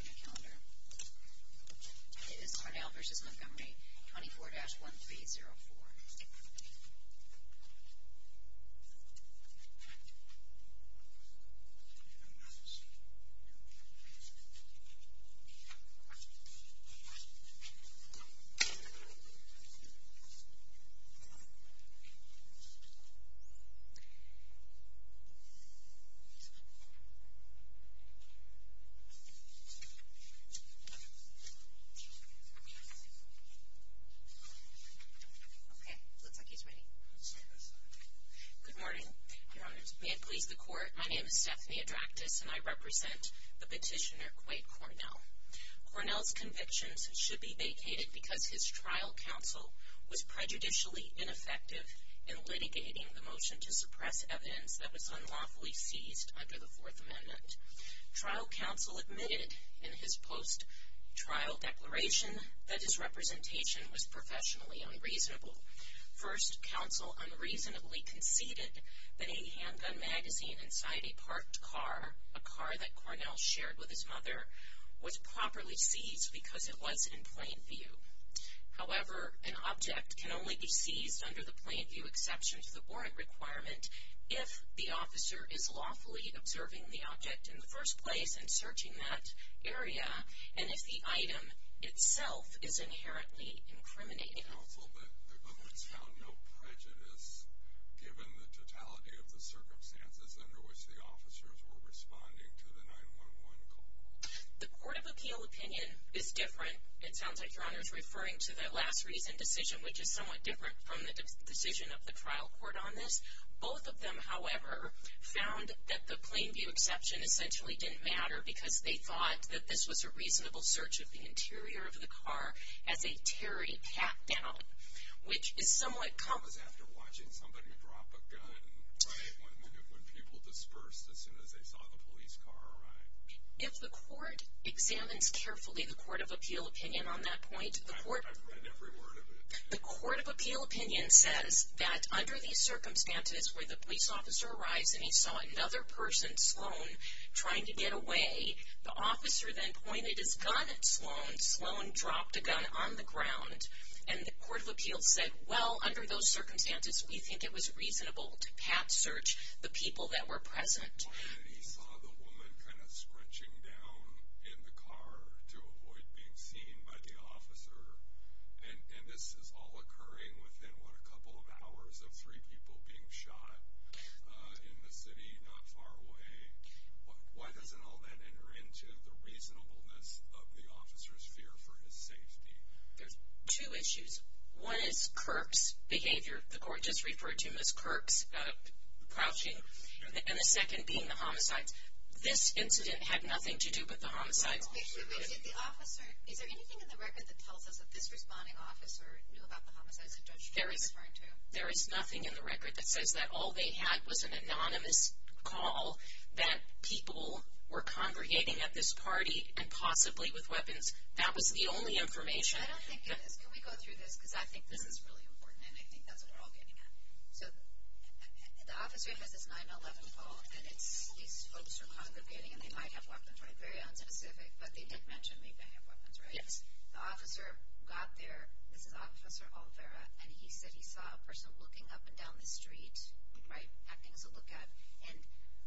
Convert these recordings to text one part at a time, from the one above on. calendar. It is Cornell v. Montgomery, 24-1304. Okay, looks like he's ready. Good morning, Your Honors. May it please the Court, my name is Stephanie Adractis and I represent the petitioner, Quate Cornell. Cornell's convictions should be vacated because his trial counsel was prejudicially ineffective in litigating the motion to suppress evidence that was unlawfully seized under the Fourth Amendment. Trial counsel admitted in his post-trial declaration that his representation was professionally unreasonable. First, counsel unreasonably conceded that a handgun magazine inside a parked car, a car that Cornell shared with his mother, was properly seized because it was in plain view. However, an object can only be seized under the plain view exception to the warrant requirement if the officer is lawfully observing the object in the first place and searching that area, and if the item itself is inherently incriminating. Counsel, the government's found no prejudice given the totality of the circumstances under which the officers were responding to the 9-1-1 call. The Court of Appeal opinion is different, it sounds like Your Honors referring to that last recent decision, which is somewhat different from the decision of the trial court on this. Both of them, however, found that the plain view exception essentially didn't matter because they thought that this was a reasonable search of the interior of the car as a teary pat-down, which is somewhat common. If the court examines carefully the Court of Appeal opinion on that point, the Court of Appeal opinion says that under these circumstances where the police officer arrives and he saw another person, Sloan, trying to get away, the officer then pointed his gun at Sloan, Sloan dropped a gun on the ground, and the Court of Appeal said, well, under those circumstances we think it was reasonable to pat-search the people that were present. He saw the woman kind of scrunching down in the car to avoid being seen by the officer, and this is all occurring within what, a couple of hours of three people being shot in the city not far away. Why doesn't all that enter into the reasonableness of the officer's fear for his safety? There's two issues. One is Kirk's behavior. The court just referred to him as Kirk's crouching. And the second being the homicides. This incident had nothing to do with the homicides. Is there anything in the record that tells us that this responding officer knew about the homicides the judge was referring to? There is nothing in the record that says that all they had was an anonymous call that people were congregating at this party and possibly with weapons. That was the only information. I don't think it is. Can we go through this? Because I think this is really important, and I think that's what we're all getting at. So the officer has this 9-11 call, and these folks are congregating, and they might have weapons, right? Very unspecific, but they did mention they may have weapons, right? Yes. The officer got there. This is Officer Olvera, and he said he saw a person looking up and down the street, right, acting as a lookout. And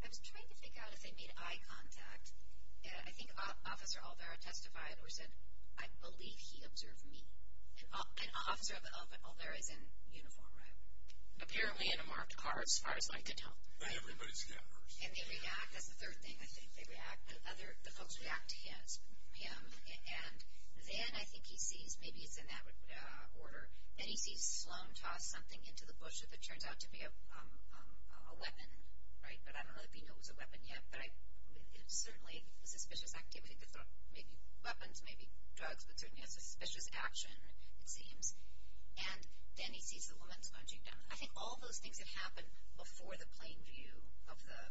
I was trying to figure out if they made eye contact. I think Officer Olvera testified or said, I believe he observed me. And Officer Olvera is in uniform, right? Apparently in a marked car, as far as I can tell. Not everybody's in that person. And they react. That's the third thing. I think they react. The folks react to him, and then I think he sees, maybe it's in that order, then he sees Sloan toss something into the bush that turns out to be a weapon, right? But I don't know that we know it was a weapon yet, but it certainly was a suspicious activity. Maybe weapons, maybe drugs, but certainly a suspicious action, it seems. And then he sees the woman's punching down. I think all those things had happened before the plain view of the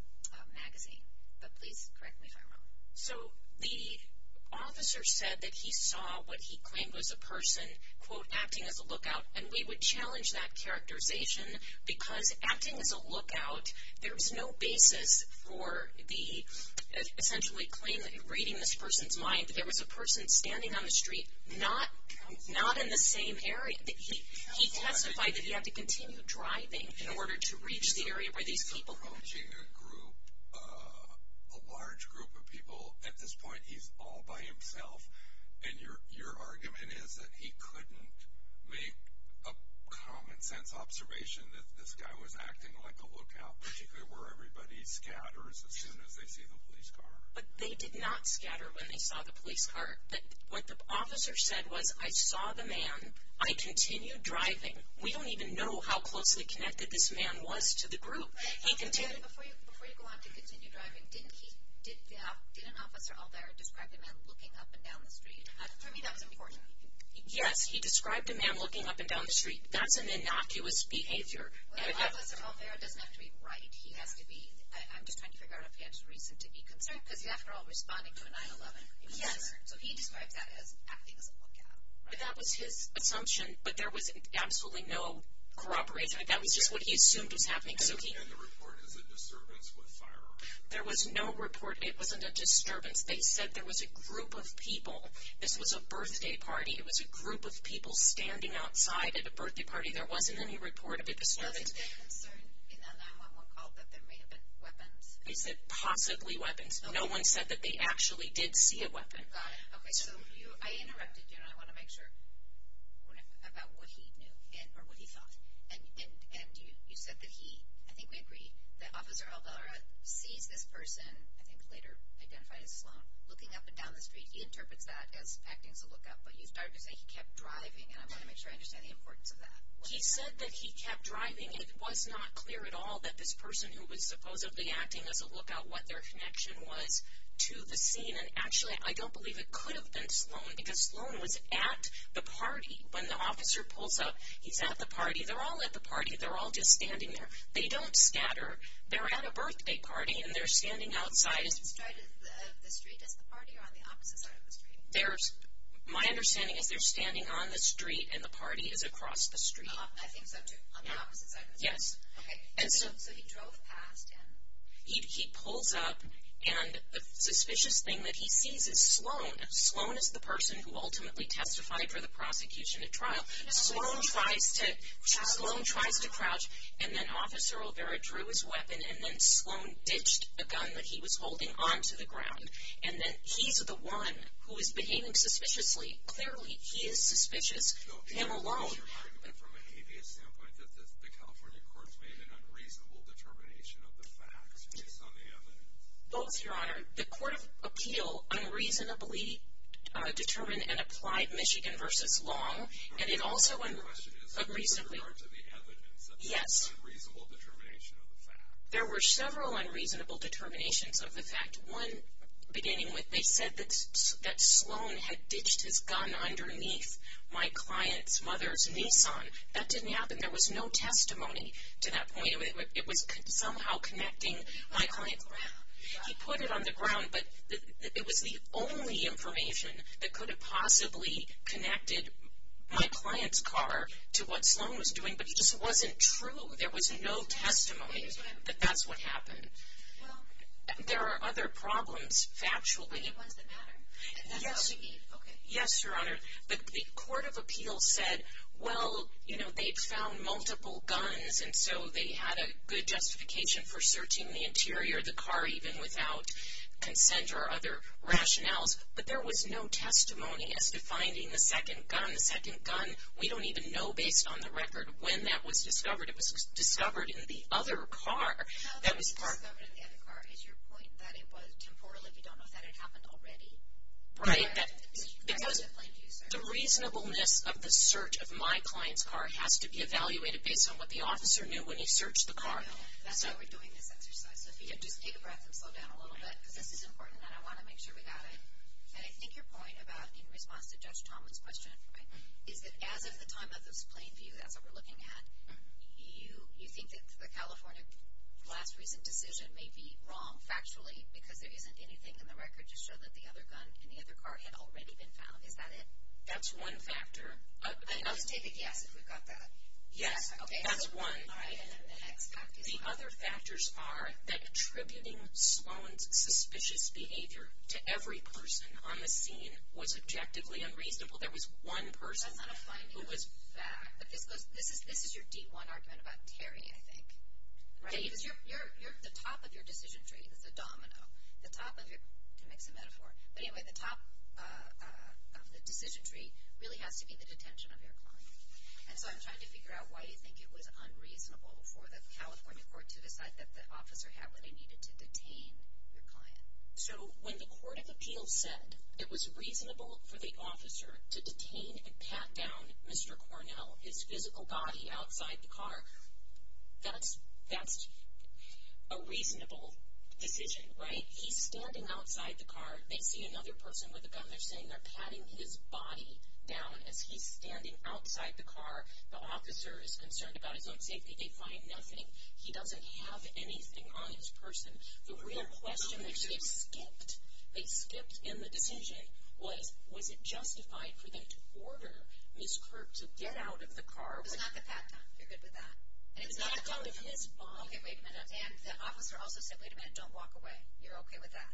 magazine. But please correct me if I'm wrong. So the officer said that he saw what he claimed was a person, quote, acting as a lookout, and we would challenge that characterization because acting as a lookout, there's no basis for the essentially claim that you're reading this person's mind, that there was a person standing on the street, not in the same area. He testified that he had to continue driving in order to reach the area where these people were. He's approaching a group, a large group of people. At this point, he's all by himself. And your argument is that he couldn't make a common-sense observation that this guy was acting like a lookout, particularly where everybody scatters as soon as they see the police car. But they did not scatter when they saw the police car. What the officer said was, I saw the man. I continued driving. We don't even know how closely connected this man was to the group. Before you go on to continue driving, did an officer out there describe the man looking up and down the street? For me, that was important. Yes, he described a man looking up and down the street. That's an innocuous behavior. Well, an officer out there doesn't have to be right. He has to be, I'm just trying to figure out if he had a reason to be concerned because he's, after all, responding to a 9-11 concern. Yes, so he described that as acting as a lookout. But that was his assumption, but there was absolutely no corroboration. That was just what he assumed was happening. Okay, and the report is a disturbance with fire. There was no report. It wasn't a disturbance. They said there was a group of people. This was a birthday party. It was a group of people standing outside at a birthday party. There wasn't any report of a disturbance. Was it a concern in that 9-11 call that there may have been weapons? They said possibly weapons. No one said that they actually did see a weapon. Got it. Okay, so I interrupted you, and I want to make sure about what he knew or what he thought. And you said that he, I think we agree, that Officer Alvara sees this person, I think later identified as Sloan, looking up and down the street. He interprets that as acting as a lookout. But you started to say he kept driving, and I want to make sure I understand the importance of that. He said that he kept driving, and it was not clear at all that this person who was supposedly acting as a lookout, what their connection was to the scene. And actually, I don't believe it could have been Sloan because Sloan was at the party. When the officer pulls up, he's at the party. They're all at the party. They're all just standing there. They don't scatter. They're at a birthday party, and they're standing outside. Is the street as the party or on the opposite side of the street? My understanding is they're standing on the street, and the party is across the street. I think so, too, on the opposite side of the street. Yes. Okay, so he drove past him. He pulls up, and the suspicious thing that he sees is Sloan. Sloan is the person who ultimately testified for the prosecution at trial. Sloan tries to crouch, and then Officer Olvera drew his weapon, and then Sloan ditched a gun that he was holding onto the ground. And then he's the one who is behaving suspiciously. Clearly, he is suspicious, him alone. So is your argument from a habeas standpoint that the California courts made an unreasonable determination of the facts based on the evidence? Both, Your Honor. The Court of Appeal unreasonably determined and applied Michigan v. Long, and it also unreasonably- My question is in regards to the evidence that there was an unreasonable determination of the fact. There were several unreasonable determinations of the fact. One beginning with they said that Sloan had ditched his gun underneath my client's mother's Nissan. That didn't happen. There was no testimony to that point. It was somehow connecting my client's- He put it on the ground, but it was the only information that could have possibly connected my client's car to what Sloan was doing, but it just wasn't true. There was no testimony that that's what happened. Well- There are other problems, factually. The ones that matter? Yes. Okay. Yes, Your Honor. The Court of Appeal said, well, you know, they found multiple guns, and so they had a good justification for searching the interior of the car, even without consent or other rationales, but there was no testimony as to finding the second gun. The second gun, we don't even know, based on the record, when that was discovered. It was discovered in the other car. How that was discovered in the other car is your point that it was temporal. If you don't know that, it happened already. Right. Because the reasonableness of the search of my client's car has to be evaluated based on what the officer knew when he searched the car. I know. That's why we're doing this exercise. Sophia, just take a breath and slow down a little bit, because this is important, and I want to make sure we got it. And I think your point about in response to Judge Tomlin's question, right, is that as of the time of this plain view, that's what we're looking at, you think that the California last recent decision may be wrong factually because there isn't anything in the record to show that the other gun in the other car had already been found. Is that it? That's one factor. Let's take a guess if we've got that. Okay. That's one. All right. And the next factor is what? The other factors are that attributing Sloan's suspicious behavior to every person on the scene was objectively unreasonable. There was one person who was. That's not a finding of fact. This is your D1 argument about Terry, I think. Right. Because the top of your decision tree is the domino. The top of your, to mix a metaphor. But anyway, the top of the decision tree really has to be the detention of your client. And so I'm trying to figure out why you think it was unreasonable for the California court to decide that the officer had what he needed to detain your client. So when the court of appeals said it was reasonable for the officer to detain and pat down Mr. Cornell, his physical body outside the car, that's a reasonable decision. Right? When he's standing outside the car, they see another person with a gun. They're saying they're patting his body down as he's standing outside the car. The officer is concerned about his own safety. They find nothing. He doesn't have anything on his person. The real question which they skipped, they skipped in the decision, was was it justified for them to order Ms. Kirk to get out of the car? It was not the pat down. You're good with that. And it's not the pat down. It's not the pat down of his body. Okay, wait a minute. And the officer also said, wait a minute, don't walk away. You're okay with that.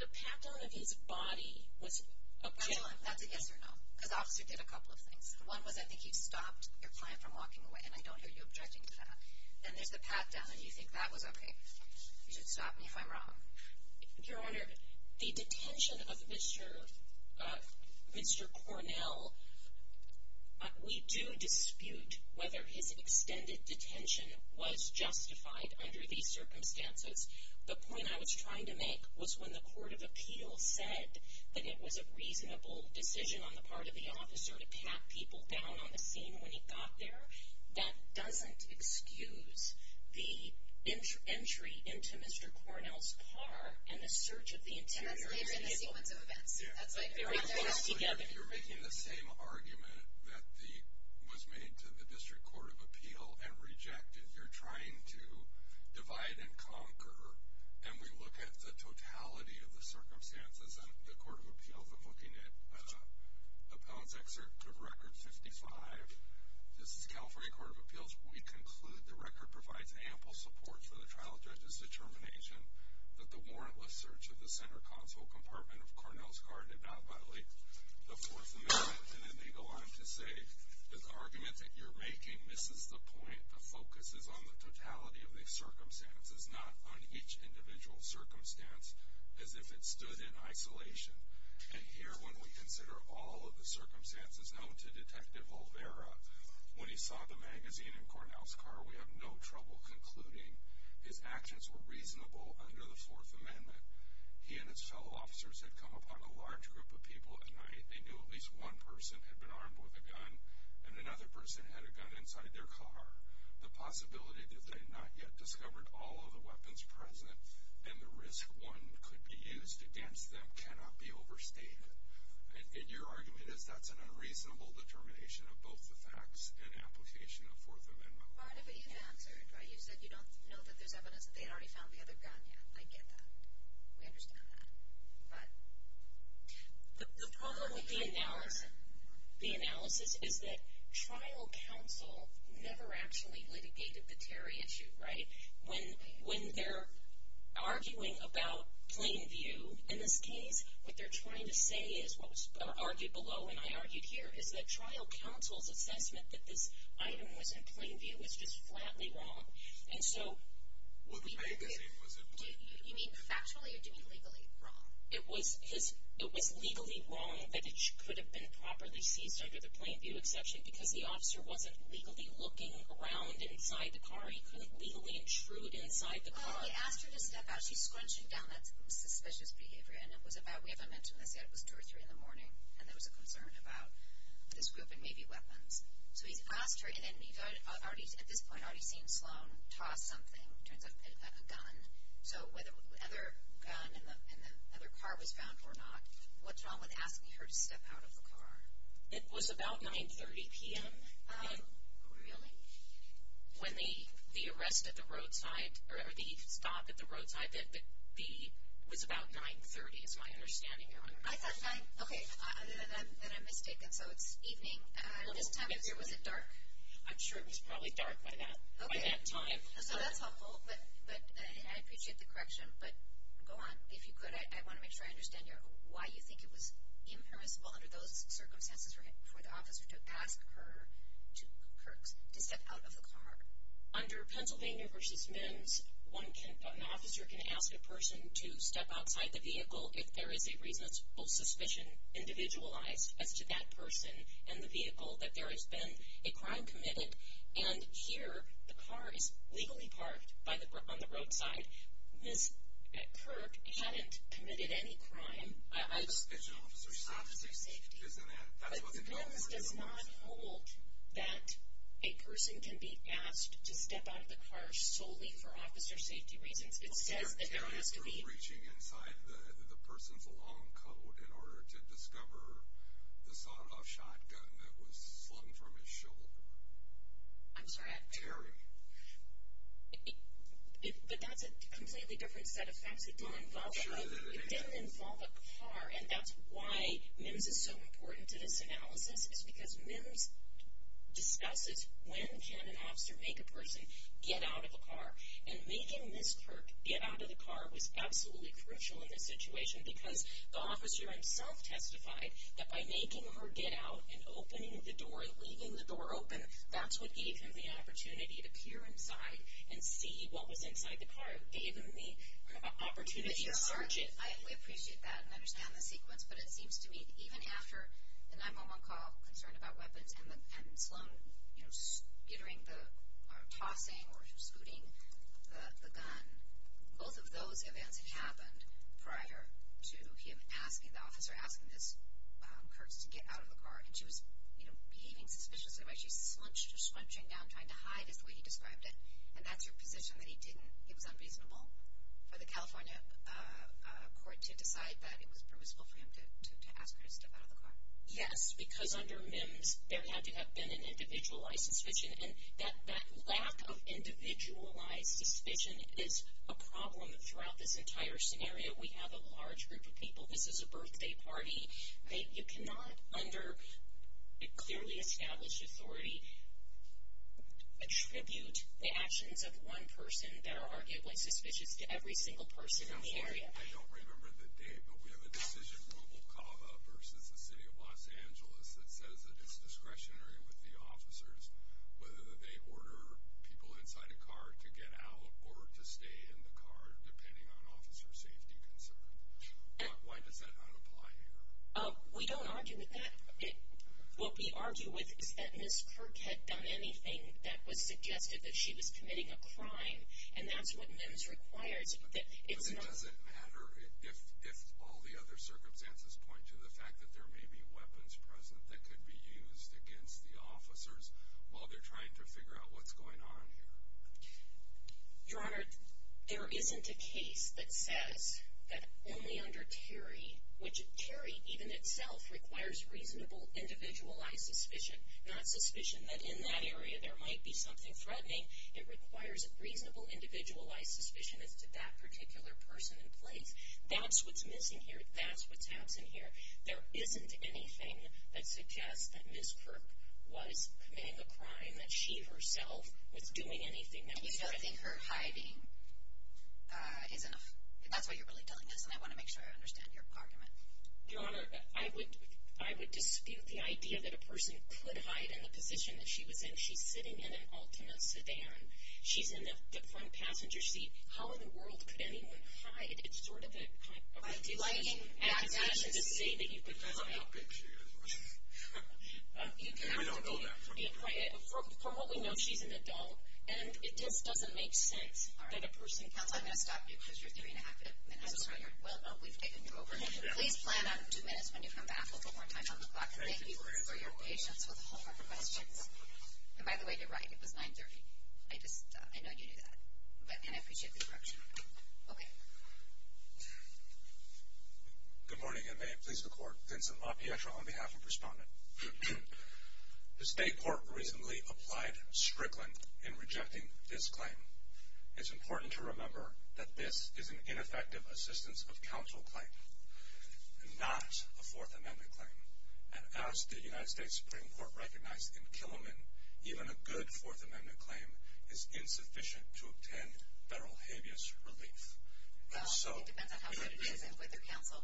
The pat down of his body was objective. That's a yes or no because the officer did a couple of things. One was I think he stopped your client from walking away, and I don't hear you objecting to that. Then there's the pat down, and you think that was okay. You should stop me if I'm wrong. Your Honor, the detention of Mr. Cornell, we do dispute whether his extended detention was justified under these circumstances. The point I was trying to make was when the court of appeals said that it was a reasonable decision on the part of the officer to pat people down on the scene when he got there, that doesn't excuse the entry into Mr. Cornell's car and the search of the interior. And that's later in the sequence of events. If you're making the same argument that was made to the District Court of Appeal and reject it, you're trying to divide and conquer. And we look at the totality of the circumstances in the court of appeals. I'm looking at Appellant's Excerpt of Record 55. This is California Court of Appeals. We conclude the record provides ample support for the trial judge's determination that the warrantless search of the center console compartment of Cornell's car did not violate the Fourth Amendment. And then they go on to say, the argument that you're making misses the point. The focus is on the totality of the circumstances, not on each individual circumstance as if it stood in isolation. And here, when we consider all of the circumstances known to Detective Olvera, when he saw the magazine in Cornell's car, we have no trouble concluding his actions were reasonable under the Fourth Amendment. He and his fellow officers had come upon a large group of people at night. They knew at least one person had been armed with a gun, and another person had a gun inside their car. The possibility that they had not yet discovered all of the weapons present and the risk one could be used against them cannot be overstated. And your argument is that's an unreasonable determination of both the facts and application of Fourth Amendment law. But you've answered, right? You said you don't know that there's evidence that they had already found the other gun. Yeah, I get that. We understand that. But... The problem with the analysis is that trial counsel never actually litigated the Terry issue, right? When they're arguing about plain view, in this case, what they're trying to say is, what was argued below and I argued here, is that trial counsel's assessment that this item was in plain view is just flatly wrong. And so... You mean factually or do you mean legally wrong? It was legally wrong that it could have been properly seized under the plain view exception because the officer wasn't legally looking around inside the car. He couldn't legally intrude inside the car. Well, he asked her to step out. She's scrunching down that suspicious behavior, and it was about, we haven't mentioned this yet, it was 2 or 3 in the morning, and there was a concern about this group and maybe weapons. So he asked her, and you've already, at this point, already seen Sloan toss something, it turns out, a gun. So whether the other gun in the other car was found or not, what's wrong with asking her to step out of the car? It was about 9.30 p.m. Really? When the arrest at the roadside, or the stop at the roadside, it was about 9.30, is my understanding. I thought 9... Okay, then I'm mistaken, so it's evening. At this time of year, was it dark? I'm sure it was probably dark by that time. So that's helpful, but I appreciate the correction, but go on. If you could, I want to make sure I understand why you think it was impermissible under those circumstances for the officer to ask her to step out of the car. Under Pennsylvania v. Men's, an officer can ask a person to step outside the vehicle if there is a reasonable suspicion, individualized, as to that person and the vehicle, that there has been a crime committed. And here, the car is legally parked on the roadside. Ms. Kirk hadn't committed any crime. It's an officer's safety, isn't it? But the bill does not hold that a person can be asked to step out of the car solely for officer safety reasons. It says that there has to be... You had the person's long coat in order to discover the sawed-off shotgun that was slung from his shoulder. I'm sorry, I... Terry. But that's a completely different set of facts. It didn't involve a car, and that's why MIMS is so important to this analysis, is because MIMS discusses when can an officer make a person get out of a car. And making Ms. Kirk get out of the car was absolutely crucial in this situation because the officer himself testified that by making her get out and opening the door, leaving the door open, that's what gave him the opportunity to peer inside and see what was inside the car. It gave him the opportunity to search it. I appreciate that and understand the sequence, but it seems to me that even after the 911 call, concerned about weapons and Sloan, you know, gittering or tossing or scooting the gun, both of those events had happened prior to him asking the officer, asking Ms. Kirk to get out of the car. And she was, you know, behaving suspiciously, right? She slunched or scrunching down, trying to hide is the way he described it, and that's her position that he didn't. It was unreasonable for the California court to decide that it was permissible for him to ask her to step out of the car. Yes, because under MIMS, there had to have been an individualized suspicion, and that lack of individualized suspicion is a problem throughout this entire scenario. We have a large group of people. This is a birthday party. You cannot, under a clearly established authority, attribute the actions of one person that are arguably suspicious to every single person in the area. I don't remember the date, but we have a decision, Mobile Cava versus the City of Los Angeles, that says that it's discretionary with the officers, whether they order people inside a car to get out or to stay in the car, depending on officer safety concerns. Why does that not apply here? We don't argue with that. What we argue with is that Ms. Kirk had done anything that was suggested, that she was committing a crime, and that's what MIMS requires. But it doesn't matter if all the other circumstances point to the fact that there may be weapons present that could be used against the officers while they're trying to figure out what's going on here. Your Honor, there isn't a case that says that only under Terry, which Terry even itself requires reasonable individualized suspicion, not suspicion that in that area there might be something threatening. It requires a reasonable individualized suspicion as to that particular person in place. That's what's missing here. That's what's absent here. There isn't anything that suggests that Ms. Kirk was committing a crime, that she herself was doing anything that was suggested. I think her hiding is enough. If that's what you're really telling us, then I want to make sure I understand your argument. Your Honor, I would dispute the idea that a person could hide in the position that she was in. If she's sitting in an Altima sedan, she's in the front passenger seat, how in the world could anyone hide? It's sort of a delighting act to say that you could hide. I don't know how big she is. We don't know that. From what we know, she's an adult. And it just doesn't make sense that a person could hide. Counsel, I'm going to stop you because you're three and a half minutes. I'm sorry. Well, no, we've taken you over. Please plan on two minutes when you come back with one more time on the clock. Thank you for your patience with the homework questions. And by the way, you're right. It was 930. I know you knew that. And I appreciate the correction. Okay. Good morning, and may it please the Court, Vincent LaPietra on behalf of Respondent. The State Court recently applied Strickland in rejecting this claim. It's important to remember that this is an ineffective assistance of counsel claim, not a Fourth Amendment claim. And as the United States Supreme Court recognized in Killiman, even a good Fourth Amendment claim is insufficient to obtain federal habeas relief. It depends on how good it is and whether counsel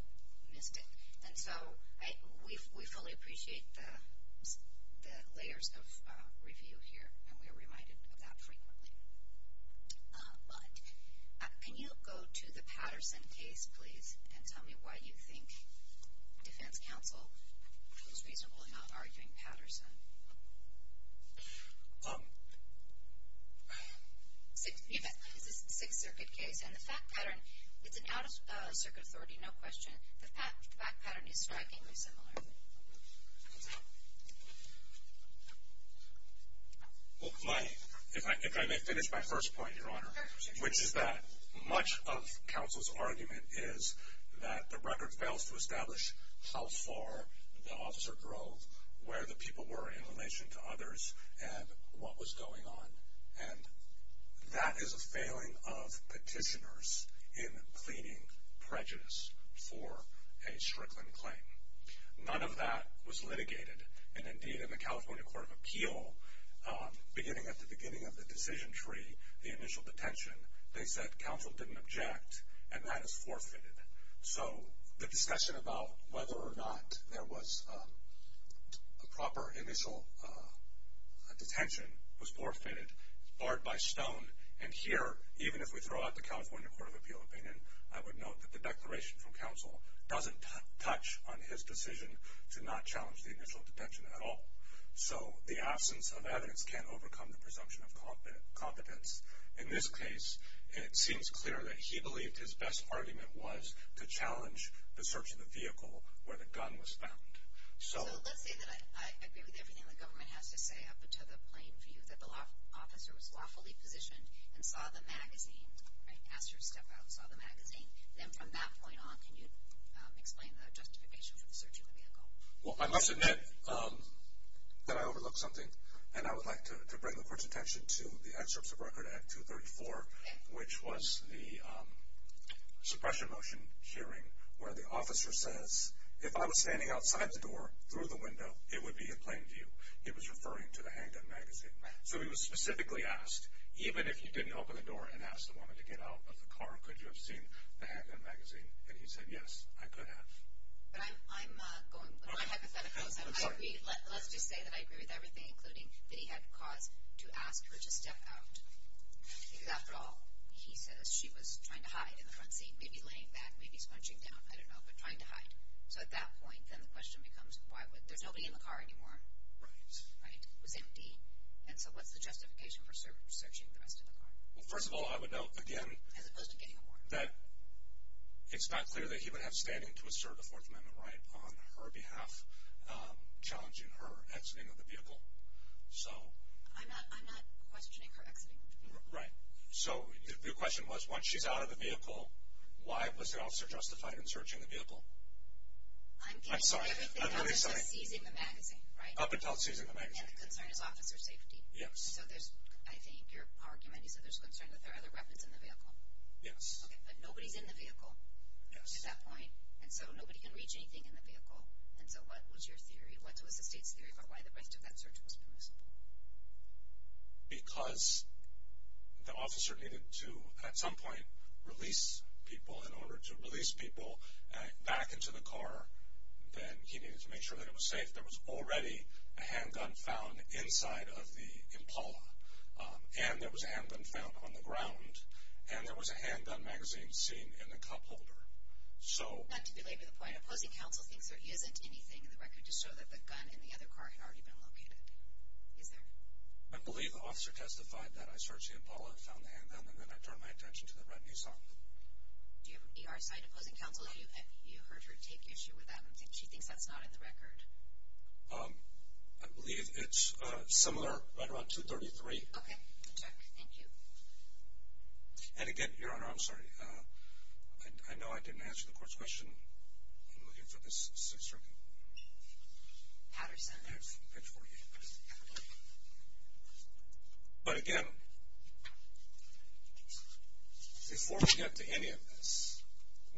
missed it. And so we fully appreciate the layers of review here, and we are reminded of that frequently. But can you go to the Patterson case, please, and tell me why you think defense counsel was reasonable in not arguing Patterson? It's a Sixth Circuit case, and the fact pattern, it's an out-of-circuit authority, no question. The fact pattern is strikingly similar. Well, if I may finish my first point, Your Honor, which is that much of counsel's argument is that the record fails to establish how far the officer drove, where the people were in relation to others, and what was going on. And that is a failing of petitioners in pleading prejudice for a Strickland claim. None of that was litigated, and indeed in the California Court of Appeal, beginning at the beginning of the decision tree, the initial detention, they said counsel didn't object, and that is forfeited. So the discussion about whether or not there was a proper initial detention was forfeited, barred by stone, and here, even if we throw out the California Court of Appeal opinion, I would note that the declaration from counsel doesn't touch on his decision to not challenge the initial detention at all. So the absence of evidence can't overcome the presumption of competence. In this case, it seems clear that he believed his best argument was to challenge the search of the vehicle where the gun was found. So let's say that I agree with everything the government has to say up until the plain view that the law officer was lawfully positioned and saw the magazine, right, asked her to step out and saw the magazine. Then from that point on, can you explain the justification for the search of the vehicle? Well, I must admit that I overlooked something, and I would like to bring the Court's attention to the excerpts of Record Act 234, which was the suppression motion hearing where the officer says, if I was standing outside the door through the window, it would be a plain view. He was referring to the handgun magazine. So he was specifically asked, even if he didn't open the door and asked the woman to get out of the car, could you have seen the handgun magazine? And he said, yes, I could have. But I'm going with my hypotheticals. Let's just say that I agree with everything, including that he had cause to ask her to step out, because after all, he says she was trying to hide in the front seat, maybe laying back, maybe scrunching down, I don't know, but trying to hide. So at that point, then the question becomes, there's nobody in the car anymore, right? It was empty. And so what's the justification for searching the rest of the car? Well, first of all, I would note, again, that it's not clear that he would have standing to assert a Fourth Amendment right on her behalf, challenging her exiting of the vehicle. I'm not questioning her exiting. Right. So the question was, once she's out of the vehicle, why was the officer justified in searching the vehicle? I'm sorry. Up until seizing the magazine, right? Up until seizing the magazine. And the concern is officer safety. Yes. So I think your argument is that there's concern that there are other weapons in the vehicle. Yes. Okay. But nobody's in the vehicle. Yes. At that point. And so nobody can reach anything in the vehicle. And so what was your theory? What was the state's theory about why the rest of that search was permissible? Because the officer needed to, at some point, release people. In order to release people back into the car, then he needed to make sure that it was safe. There was already a handgun found inside of the Impala, and there was a handgun found on the ground, and there was a handgun magazine sitting in the cup holder. Not to belabor the point. Opposing counsel thinks there isn't anything in the record to show that the gun in the other car had already been located. Is there? I believe the officer testified that I searched the Impala and found the handgun, and then I turned my attention to the red Nissan. Do you have an ER side? Opposing counsel, you heard her take issue with that. She thinks that's not in the record. I believe it's similar, right around 233. Okay. Good check. Thank you. And, again, Your Honor, I'm sorry. I know I didn't answer the court's question. I'm looking for this search record. Patterson. Yes, page 48. But, again, before we get to any of this,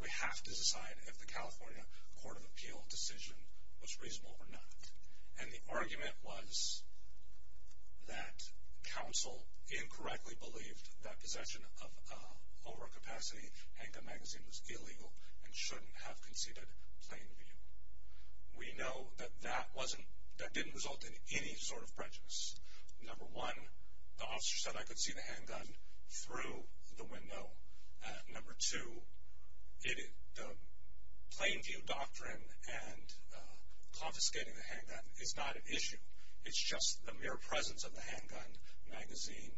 we have to decide if the California Court of Appeal decision was reasonable or not. And the argument was that counsel incorrectly believed that possession of overcapacity handgun magazine was illegal and shouldn't have conceded plain view. We know that that didn't result in any sort of prejudice. Number one, the officer said I could see the handgun through the window. Number two, the plain view doctrine and confiscating the handgun is not an issue. It's just the mere presence of the handgun magazine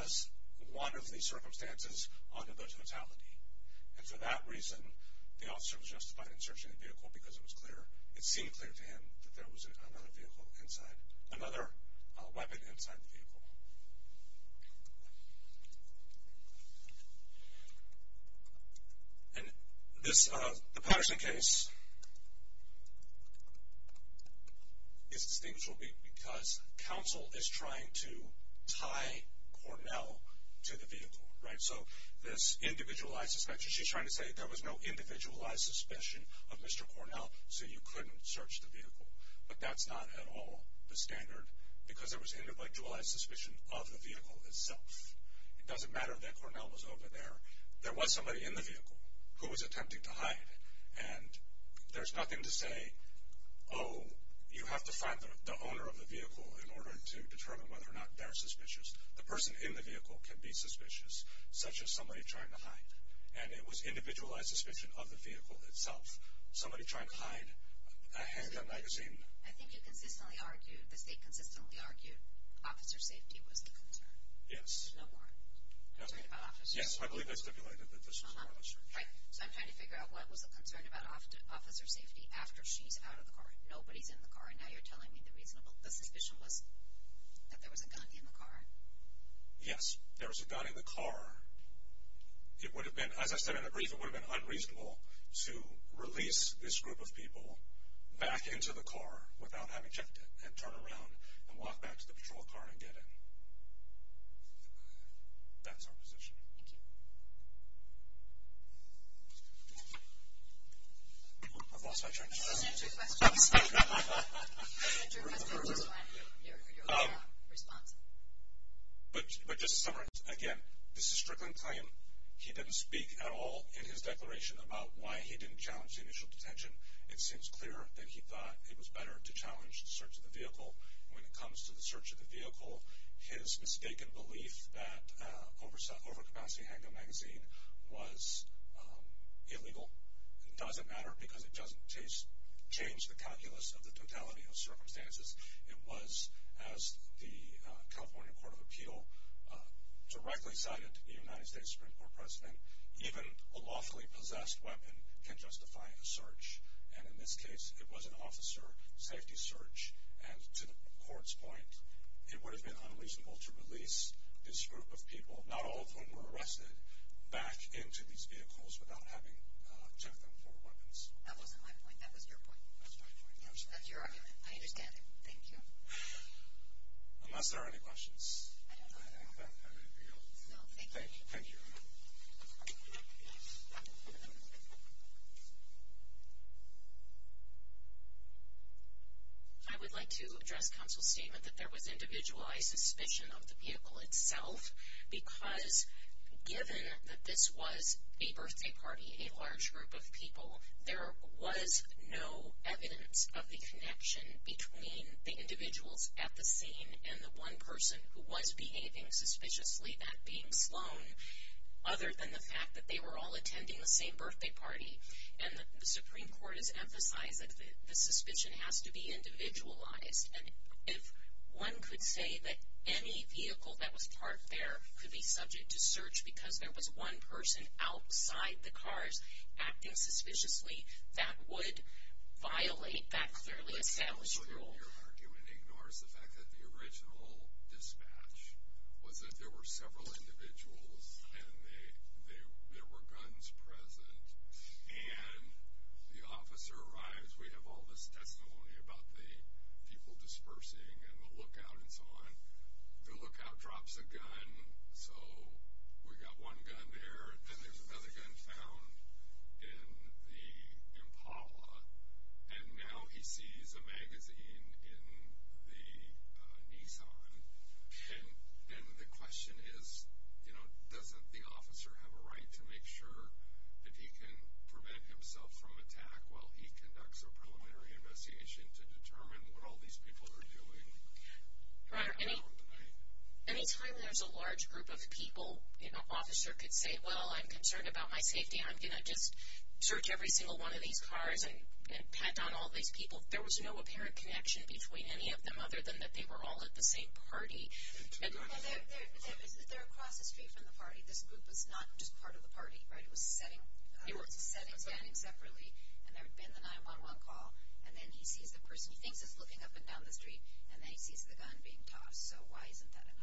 as one of the circumstances under the totality. And for that reason, the officer was justified in searching the vehicle because it was clear. It seemed clear to him that there was another weapon inside the vehicle. And the Patterson case is distinguishable because counsel is trying to tie Cornell to the vehicle, right? This individualized suspicion. She's trying to say there was no individualized suspicion of Mr. Cornell, so you couldn't search the vehicle. But that's not at all the standard because there was individualized suspicion of the vehicle itself. It doesn't matter that Cornell was over there. There was somebody in the vehicle who was attempting to hide. And there's nothing to say, oh, you have to find the owner of the vehicle in order to determine whether or not they're suspicious. The person in the vehicle can be suspicious, such as somebody trying to hide. And it was individualized suspicion of the vehicle itself. Somebody trying to hide a handgun magazine. I think you consistently argued, the state consistently argued, officer safety was a concern. Yes. No warrant. Concerned about officers. Yes, I believe I stipulated that this was a concern. Right. So I'm trying to figure out what was a concern about officer safety after she's out of the car. Nobody's in the car. The suspicion was that there was a gun in the car. Yes, there was a gun in the car. It would have been, as I said in the brief, it would have been unreasonable to release this group of people back into the car without having checked it. And turn around and walk back to the patrol car and get in. That's our position. Thank you. I've lost my train of thought. I have two questions. I have two questions. Your response. But just to summarize, again, this is Strickland's claim. He didn't speak at all in his declaration about why he didn't challenge the initial detention. It seems clear that he thought it was better to challenge the search of the vehicle. When it comes to the search of the vehicle, his mistaken belief that overcapacity handgun magazine was illegal doesn't matter because it doesn't change the calculus of the totality of circumstances. It was, as the California Court of Appeal directly cited the United States Supreme Court President, even a lawfully possessed weapon can justify a search. And in this case, it was an officer safety search. And to the court's point, it would have been unreasonable to release this group of people, not all of whom were arrested, back into these vehicles without having checked them for weapons. That wasn't my point. That was your point. That's my point. That's your argument. I understand. Thank you. Unless there are any questions. I don't know. I don't have anything else. No, thank you. Thank you. Thank you. I would like to address counsel's statement that there was individualized suspicion of the vehicle itself because given that this was a birthday party, a large group of people, there was no evidence of the connection between the individuals at the scene and the one person who was behaving suspiciously, that being Sloan, other than the fact that they were all attending the same birthday party. And the Supreme Court has emphasized that the suspicion has to be individualized. And if one could say that any vehicle that was parked there could be subject to search because there was one person outside the cars acting suspiciously, that would violate that clearly established rule. Your argument ignores the fact that the original dispatch was that there were several individuals and there were guns present. And the officer arrives. We have all this testimony about the people dispersing and the lookout and so on. The lookout drops a gun. So we got one gun there. And then there's another gun found in the Impala. And now he sees a magazine in the Nissan. And the question is, you know, doesn't the officer have a right to make sure that he can prevent himself from attack while he conducts a preliminary investigation to determine what all these people are doing? Any time there's a large group of people, an officer could say, well, I'm concerned about my safety. I'm going to just search every single one of these cars and pat down all these people. There was no apparent connection between any of them other than that they were all at the same party. They're across the street from the party. This group was not just part of the party, right? It was a setting standing separately. And there had been the 911 call. And then he sees the person he thinks is looking up and down the street. And then he sees the gun being tossed. So why isn't that enough?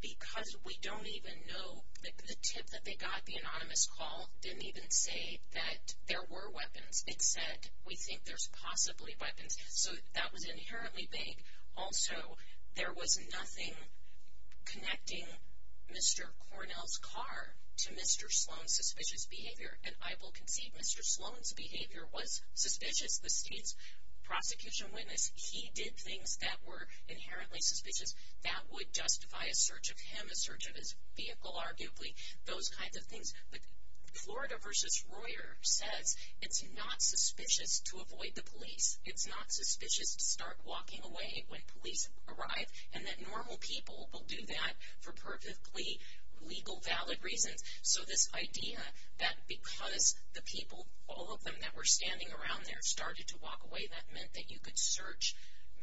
Because we don't even know. The tip that they got, the anonymous call, didn't even say that there were weapons. It said, we think there's possibly weapons. So that was inherently vague. Also, there was nothing connecting Mr. Cornell's car to Mr. Sloan's suspicious behavior. And I will concede Mr. Sloan's behavior was suspicious. The state's prosecution witness, he did things that were inherently suspicious. That would justify a search of him, a search of his vehicle, arguably, those kinds of things. But Florida v. Royer says it's not suspicious to avoid the police. It's not suspicious to start walking away when police arrive. And that normal people will do that for perfectly legal, valid reasons. So this idea that because the people, all of them that were standing around there, started to walk away, that meant that you could search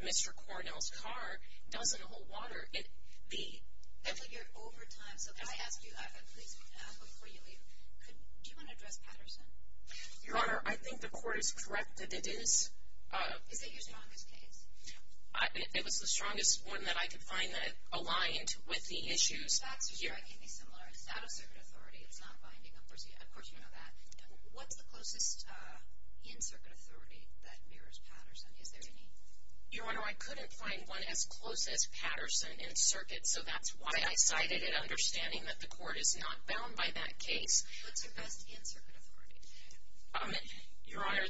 Mr. Cornell's car, doesn't hold water. You're over time. So can I ask you, please, before you leave, do you want to address Patterson? Your Honor, I think the court is correct that it is. Is it your strongest case? It was the strongest one that I could find that aligned with the issues. Facts are strikingly similar. It's out of circuit authority. It's not binding. Of course, you know that. What's the closest in-circuit authority that mirrors Patterson? Is there any? Your Honor, I couldn't find one as close as Patterson in circuit. So that's why I cited it, understanding that the court is not bound by that case. What's your best in-circuit authority? Your Honor,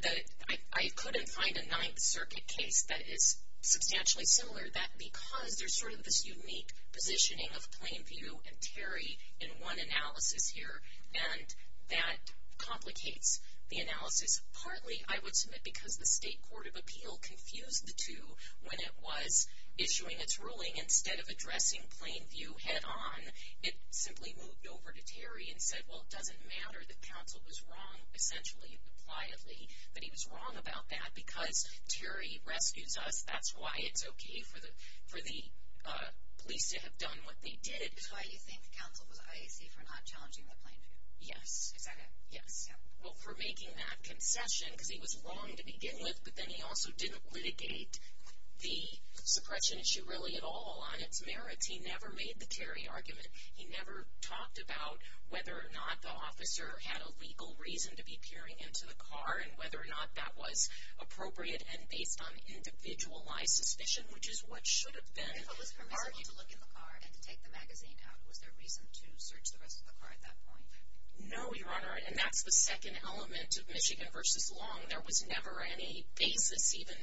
I couldn't find a Ninth Circuit case that is substantially similar. That's because there's sort of this unique positioning of Plainview and Terry in one analysis here. And that complicates the analysis partly, I would submit, because the State Court of Appeal confused the two when it was issuing its ruling. Instead of addressing Plainview head-on, it simply moved over to Terry and said, well, it doesn't matter that counsel was wrong essentially and pliably, that he was wrong about that because Terry rescues us. That's why it's okay for the police to have done what they did. That's why you think counsel was IAC for not challenging the Plainview? Yes. Is that it? Yes. Well, for making that concession because he was wrong to begin with, but then he also didn't litigate the suppression issue really at all on its merits. He never made the Terry argument. He never talked about whether or not the officer had a legal reason to be peering into the car and whether or not that was appropriate and based on individualized suspicion, which is what should have been argued. Was it permissible to look in the car and to take the magazine out? Was there reason to search the rest of the car at that point? No, Your Honor, and that's the second element of Michigan v. Long. There was never any basis even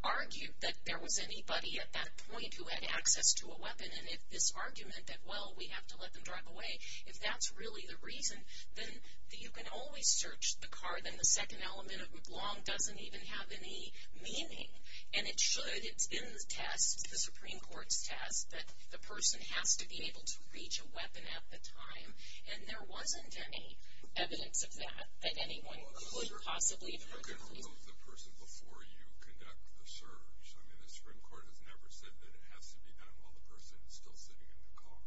argued that there was anybody at that point who had access to a weapon. And if this argument that, well, we have to let them drive away, if that's really the reason, then you can always search the car. Then the second element of Long doesn't even have any meaning. And it should. It's in the test, the Supreme Court's test, that the person has to be able to reach a weapon at the time, and there wasn't any evidence of that, that anyone could possibly have heard the police. You couldn't remove the person before you conduct the search. I mean, the Supreme Court has never said that it has to be done while the person is still sitting in the car.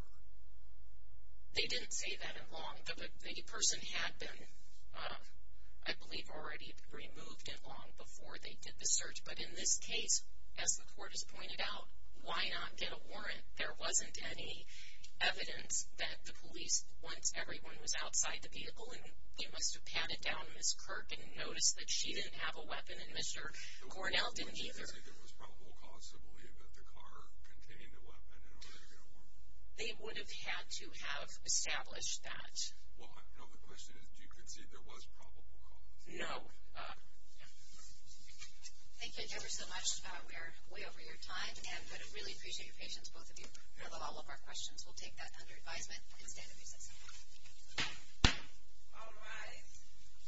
They didn't say that in Long. The person had been, I believe, already removed in Long before they did the search. But in this case, as the court has pointed out, why not get a warrant? There wasn't any evidence that the police, once everyone was outside the vehicle, and they must have patted down Ms. Kirk and noticed that she didn't have a weapon and Mr. Cornell didn't either. Do you concede there was probable cause to believe that the car contained a weapon in order to get a warrant? They would have had to have established that. Well, no, the question is do you concede there was probable cause? No. Thank you, Debra, so much. We are way over your time, but I really appreciate your patience, both of you. We have all of our questions. We'll take that under advisement and stand in recess. All rise.